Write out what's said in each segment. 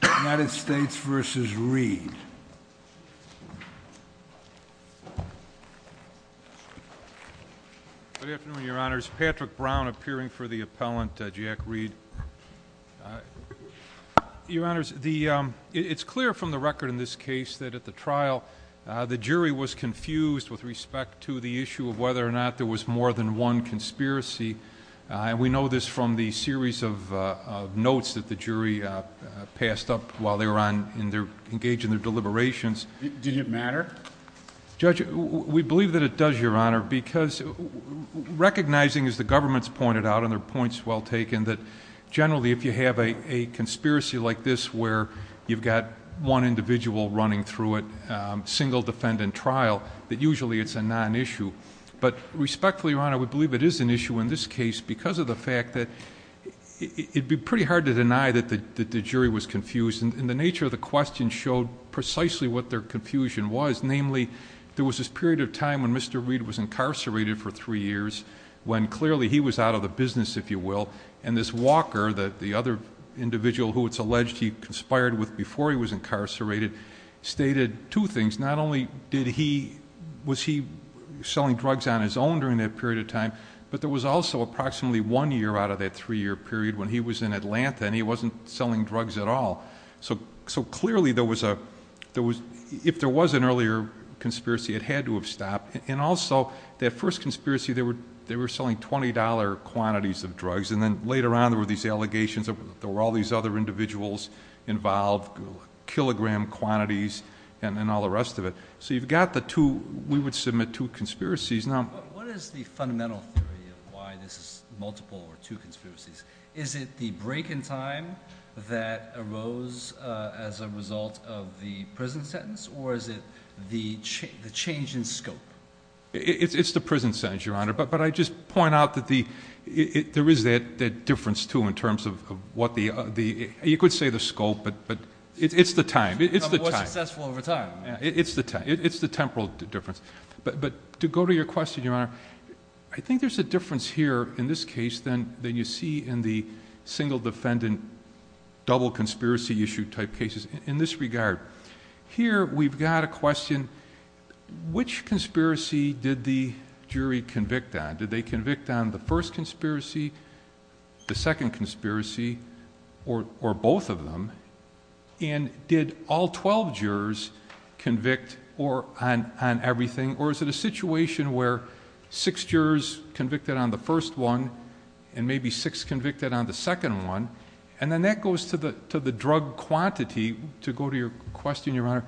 Good afternoon, your honors. Patrick Brown appearing for the appellant, Jack Reed. Your honors, it's clear from the record in this case that at the trial, the jury was confused with respect to the issue of whether or not there was more than one conspiracy. We know this from the series of notes that the jury passed up while they were engaged in their deliberations. Did it matter? Judge, we believe that it does, your honor, because recognizing as the government's pointed out and their point's well taken, that generally if you have a conspiracy like this where you've got one individual running through it, single defendant trial, that usually it's a non-issue. But respectfully, your honor, we believe it is an issue in this case because of the fact that it'd be pretty hard to deny that the jury was confused. And the nature of the question showed precisely what their confusion was. Namely, there was this period of time when Mr. Reed was incarcerated for three years when clearly he was out of the business, if you will. And this Walker, the other individual who it's alleged he conspired with before he was incarcerated, stated two things. Not that there was no conspiracy, but there was also approximately one year out of that three-year period when he was in Atlanta and he wasn't selling drugs at all. So clearly there was a, if there was an earlier conspiracy, it had to have stopped. And also, that first conspiracy, they were selling $20 quantities of drugs and then later on there were these allegations that there were all these other individuals involved, kilogram quantities and all the rest of it. So you've got the two, we would submit two conspiracies. What is the fundamental theory of why this is multiple or two conspiracies? Is it the break in time that arose as a result of the prison sentence or is it the change in scope? It's the prison sentence, Your Honor. But I just point out that there is that difference too in terms of what the, you could say the scope, but it's the time. More successful over time. It's the temporal difference. But to go to your question, Your Honor, I think there's a difference here in this case than you see in the single defendant double conspiracy issue type cases in this regard. Here we've got a question, which conspiracy did the jury convict on? Did they convict on the first conspiracy, the second conspiracy, or both of them? And did all 12 jurors convict or on everything? Or is it a situation where six jurors convicted on the first one and maybe six convicted on the second one? And then that goes to the drug quantity. To go to your question, Your Honor,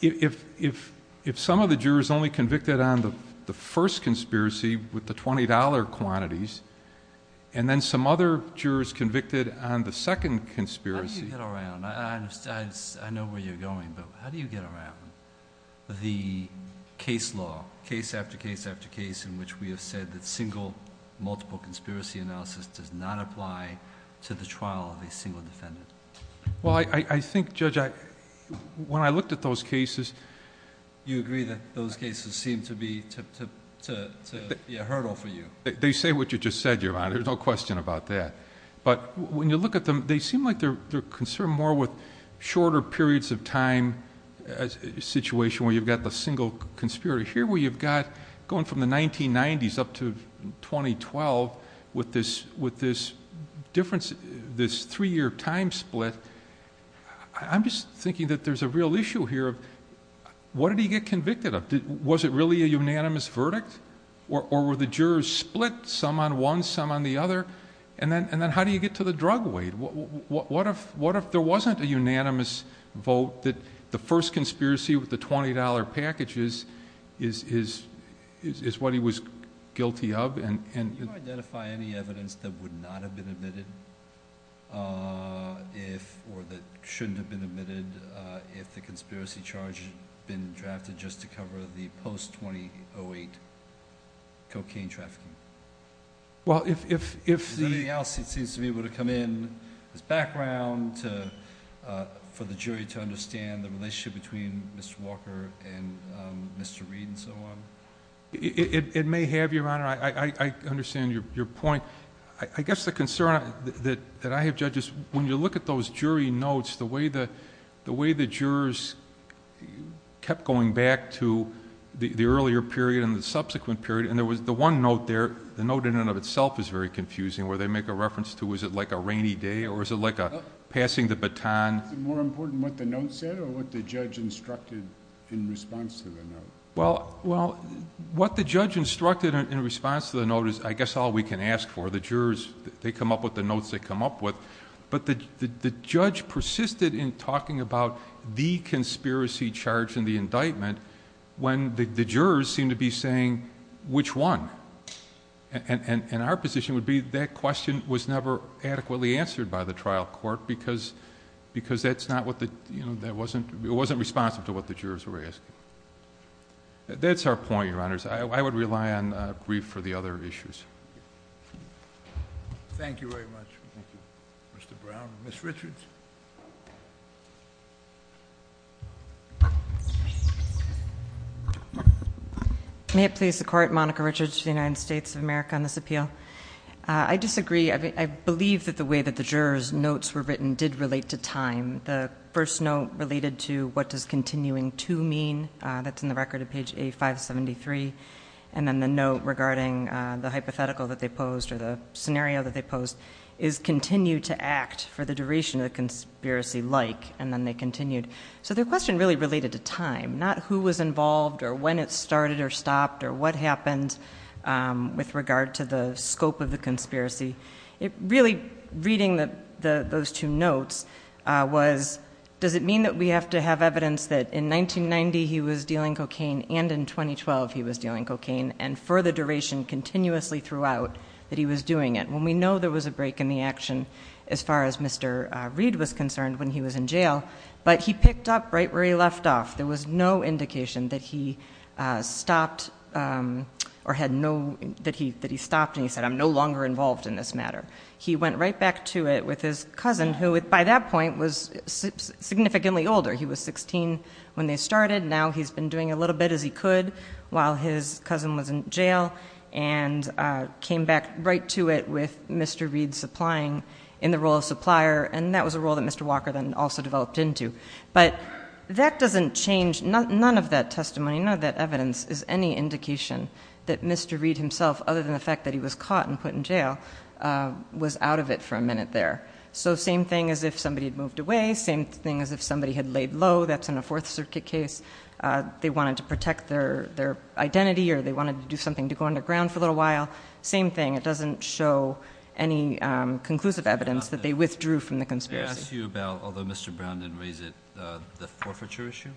if some of the jurors only convicted on the first conspiracy with the $20 quantities and then some other jurors convicted on the second conspiracy... How do you get around? I know where you're going, but how do you get around the case law, case after case after case, in which we have said that single multiple conspiracy analysis does not apply to the trial of a single defendant? Well, I think, Judge, when I looked at those cases... You agree that those cases seem to be a hurdle for you? They say what you just said, Your Honor. There's no question about that. But when you look at them, they seem like they're concerned more with shorter periods of time situation where you've got the single conspiracy. Here where you've got, going from the 1990s up to 2012, with this three-year time split, I'm just thinking that there's a real issue here of what did he get convicted of? Was it really a unanimous verdict? Or were the cases split, some on one, some on the other? Then how do you get to the drug weight? What if there wasn't a unanimous vote that the first conspiracy with the $20 packages is what he was guilty of? Can you identify any evidence that would not have been admitted, or that shouldn't have been admitted, if the conspiracy charge had been drafted just to cover the post-2008 cocaine trafficking? Well, if... Is there anything else that seems to be able to come in as background for the jury to understand the relationship between Mr. Walker and Mr. Reed and so on? It may have, Your Honor. I understand your point. I guess the concern that I have, Judge, is when you look at those jury notes, the way the jurors kept going back to the earlier period and the subsequent period, and there was the one note there, the note in and of itself is very confusing, where they make a reference to, is it like a rainy day, or is it like a passing the baton? Is it more important what the note said, or what the judge instructed in response to the note? Well, what the judge instructed in response to the note is, I guess, all we can ask for. The jurors, they come up with the notes they come up with. But the judge persisted in talking about the conspiracy charge in the indictment when the jurors seemed to be saying which one. Our position would be that question was never adequately answered by the trial court because it wasn't responsive to what the jurors were asking. That's our point, Your Honors. I would rely on brief for the other issues. Thank you very much, Mr. Brown. Ms. Richards? May it please the Court, Monica Richards, United States of America, on this appeal. I disagree. I believe that the way that the jurors' notes were written did relate to time. The first note related to what does continuing to mean, that's in the record at page A573, and then the note regarding the hypothetical that they posed, or the scenario that they posed, is continue to act for the duration of the conspiracy, like, and then they continued. So their question really related to time, not who was involved, or when it started or stopped, or what happened with regard to the scope of the conspiracy. Really, reading those two notes was, does it mean that we have to have evidence that in 1990 he was dealing cocaine and in 2012 he was dealing cocaine, and for the duration continuously throughout that he was doing it? When we know there was a break in the action as far as Mr. Reed was concerned when he was in jail, but he picked up right where he left off. There was no indication that he stopped, or had no, that he stopped and he said, I'm no longer involved in this matter. He went right back to it with his cousin, who by that point was significantly older. He was 16 when they started. Now he's been doing a little bit as he could while his cousin was in jail, and came back right to it with Mr. Reed supplying in the role of supplier, and that was a role that Mr. Walker then also developed into. But that doesn't change, none of that testimony, none of that evidence is any indication that Mr. Reed himself, other than the fact that he was caught and put in jail, was out of it for a minute there. So same thing as if somebody had moved away, same thing as if somebody had laid low, that's in a Fourth Circuit case, they wanted to protect their identity or they wanted to do something to go underground for a little while, same thing, it doesn't show any conclusive evidence that they withdrew from the conspiracy. May I ask you about, although Mr. Brown didn't raise it, the forfeiture issue?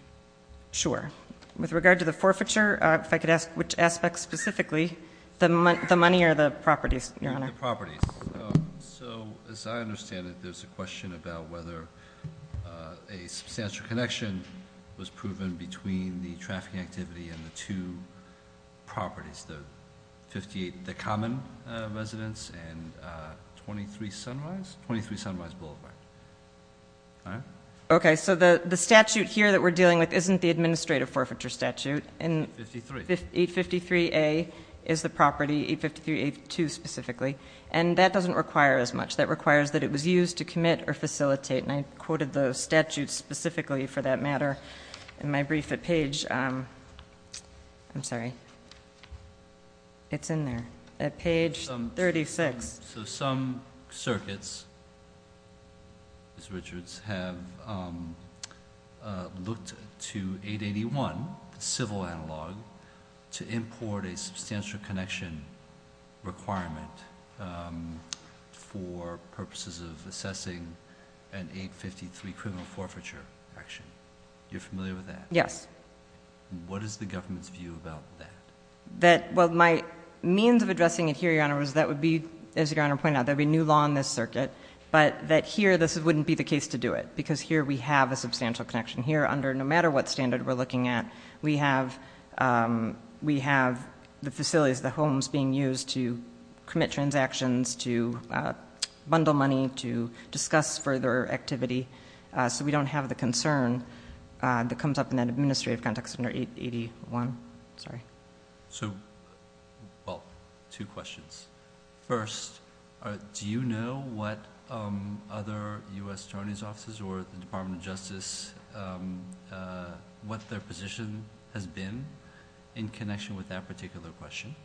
Sure. With regard to the forfeiture, if I could ask which aspect specifically, the money or the properties, Your Honor? The properties. So as I understand it, there's a question about whether a substantial connection was proven between the trafficking activity and the two properties, the 58, the common residence, and 23 Sunrise, 23 Sunrise Boulevard. Okay, so the statute here that we're dealing with isn't the administrative forfeiture statute, and 853A is the property, 853A2 specifically, and that doesn't require as much. That requires that it was used to commit or facilitate, and I quoted the statute specifically for that matter in my brief at page, I'm sorry, it's in there, at page 36. So some circuits, Ms. Richards, have looked to 881, the civil analog, to import a substantial connection requirement for purposes of assessing an 853 criminal forfeiture action. You're familiar with that? Yes. What is the government's view about that? Well, my means of addressing it here, Your Honor, is that would be, as Your Honor pointed out, there would be new law in this circuit, but that here this wouldn't be the case to do it, because here we have a substantial connection. Here, under no matter what standard we're looking at, we have the facilities, the homes being used to commit transactions, to bundle money, to discuss further activity, so we don't have the concern that comes up in that administrative context under 881. Sorry. Well, two questions. First, do you know what other U.S. Attorney's Offices or the Department of Justice, what their position has been in connection with that particular question,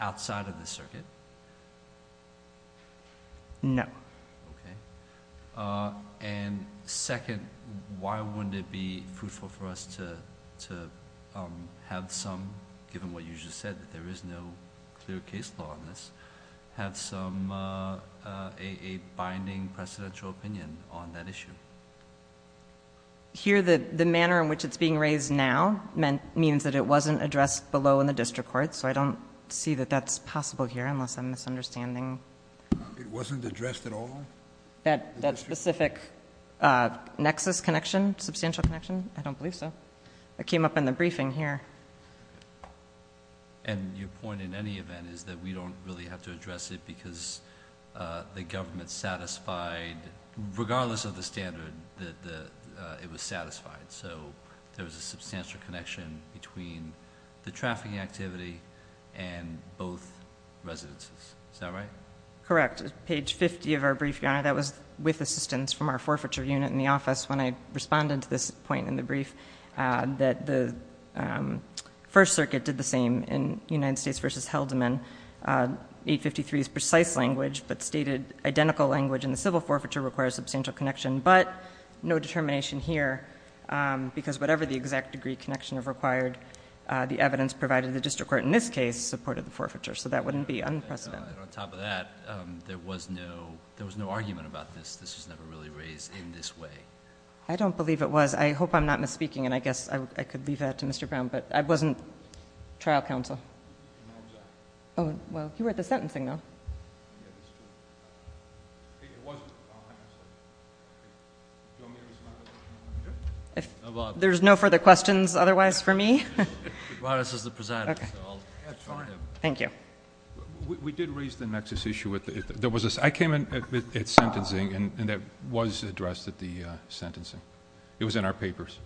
outside of the circuit? No. Okay. Second, why wouldn't it be fruitful for us to have some, given what you just said, that there is no clear case law on this, have some binding precedential opinion on that issue? Here, the manner in which it's being raised now means that it wasn't addressed below in the district court, so I don't see that that's possible here, unless I'm misunderstanding. It wasn't addressed at all? That specific nexus connection, substantial connection? I don't believe so. It came up in the briefing here. And your point, in any event, is that we don't really have to address it because the government satisfied, regardless of the standard, that it was satisfied, so there was a substantial connection between the trafficking activity and both residences. Is that right? Correct. Page 50 of our brief, Your Honor, that was with assistance from our forfeiture unit in the office when I responded to this point in the brief, that the First Circuit did the same in United States v. Heldman. 853 is precise language, but stated identical language in the civil forfeiture requires substantial connection, but no determination here because whatever the exact degree of connection required, the evidence provided in the district court in this case supported the forfeiture, so that wouldn't be unprecedented. And on top of that, there was no argument about this. This was never really raised in this way. I don't believe it was. I hope I'm not misspeaking, and I guess I could leave that to Mr. Brown, but I wasn't trial counsel. Well, you were at the sentencing, though. It wasn't trial counsel. Do you want me to respond? There's no further questions otherwise for me? He brought us as the president. Thank you. We did raise the nexus issue. I came in at sentencing, and that was addressed at the sentencing. It was in our papers.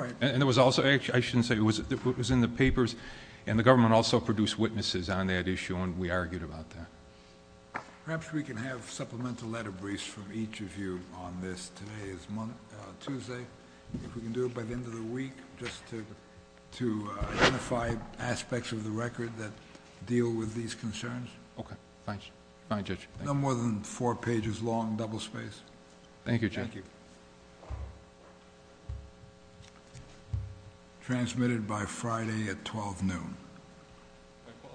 I shouldn't say it was. It was in the papers, and the government also produced witnesses on that issue, and we argued about that. Perhaps we can have supplemental letter briefs from each of you on this. Today is Tuesday. If we can do it by the end of the week, just to identify aspects of the record that deal with these concerns. Okay. Fine, Judge. No more than four pages long, double-spaced. Thank you, Judge. Thank you. Transmitted by Friday at 12 noon.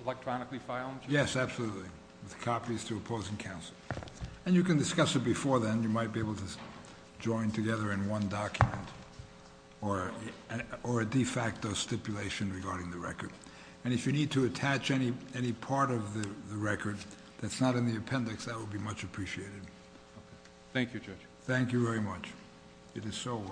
Electronically filed? Yes, absolutely, with copies to opposing counsel. And you can discuss it before then. You might be able to join together in one document or a de facto stipulation regarding the record. And if you need to attach any part of the record that's not in the appendix, that would be much appreciated. Thank you, Judge. Thank you very much. It is so ordered.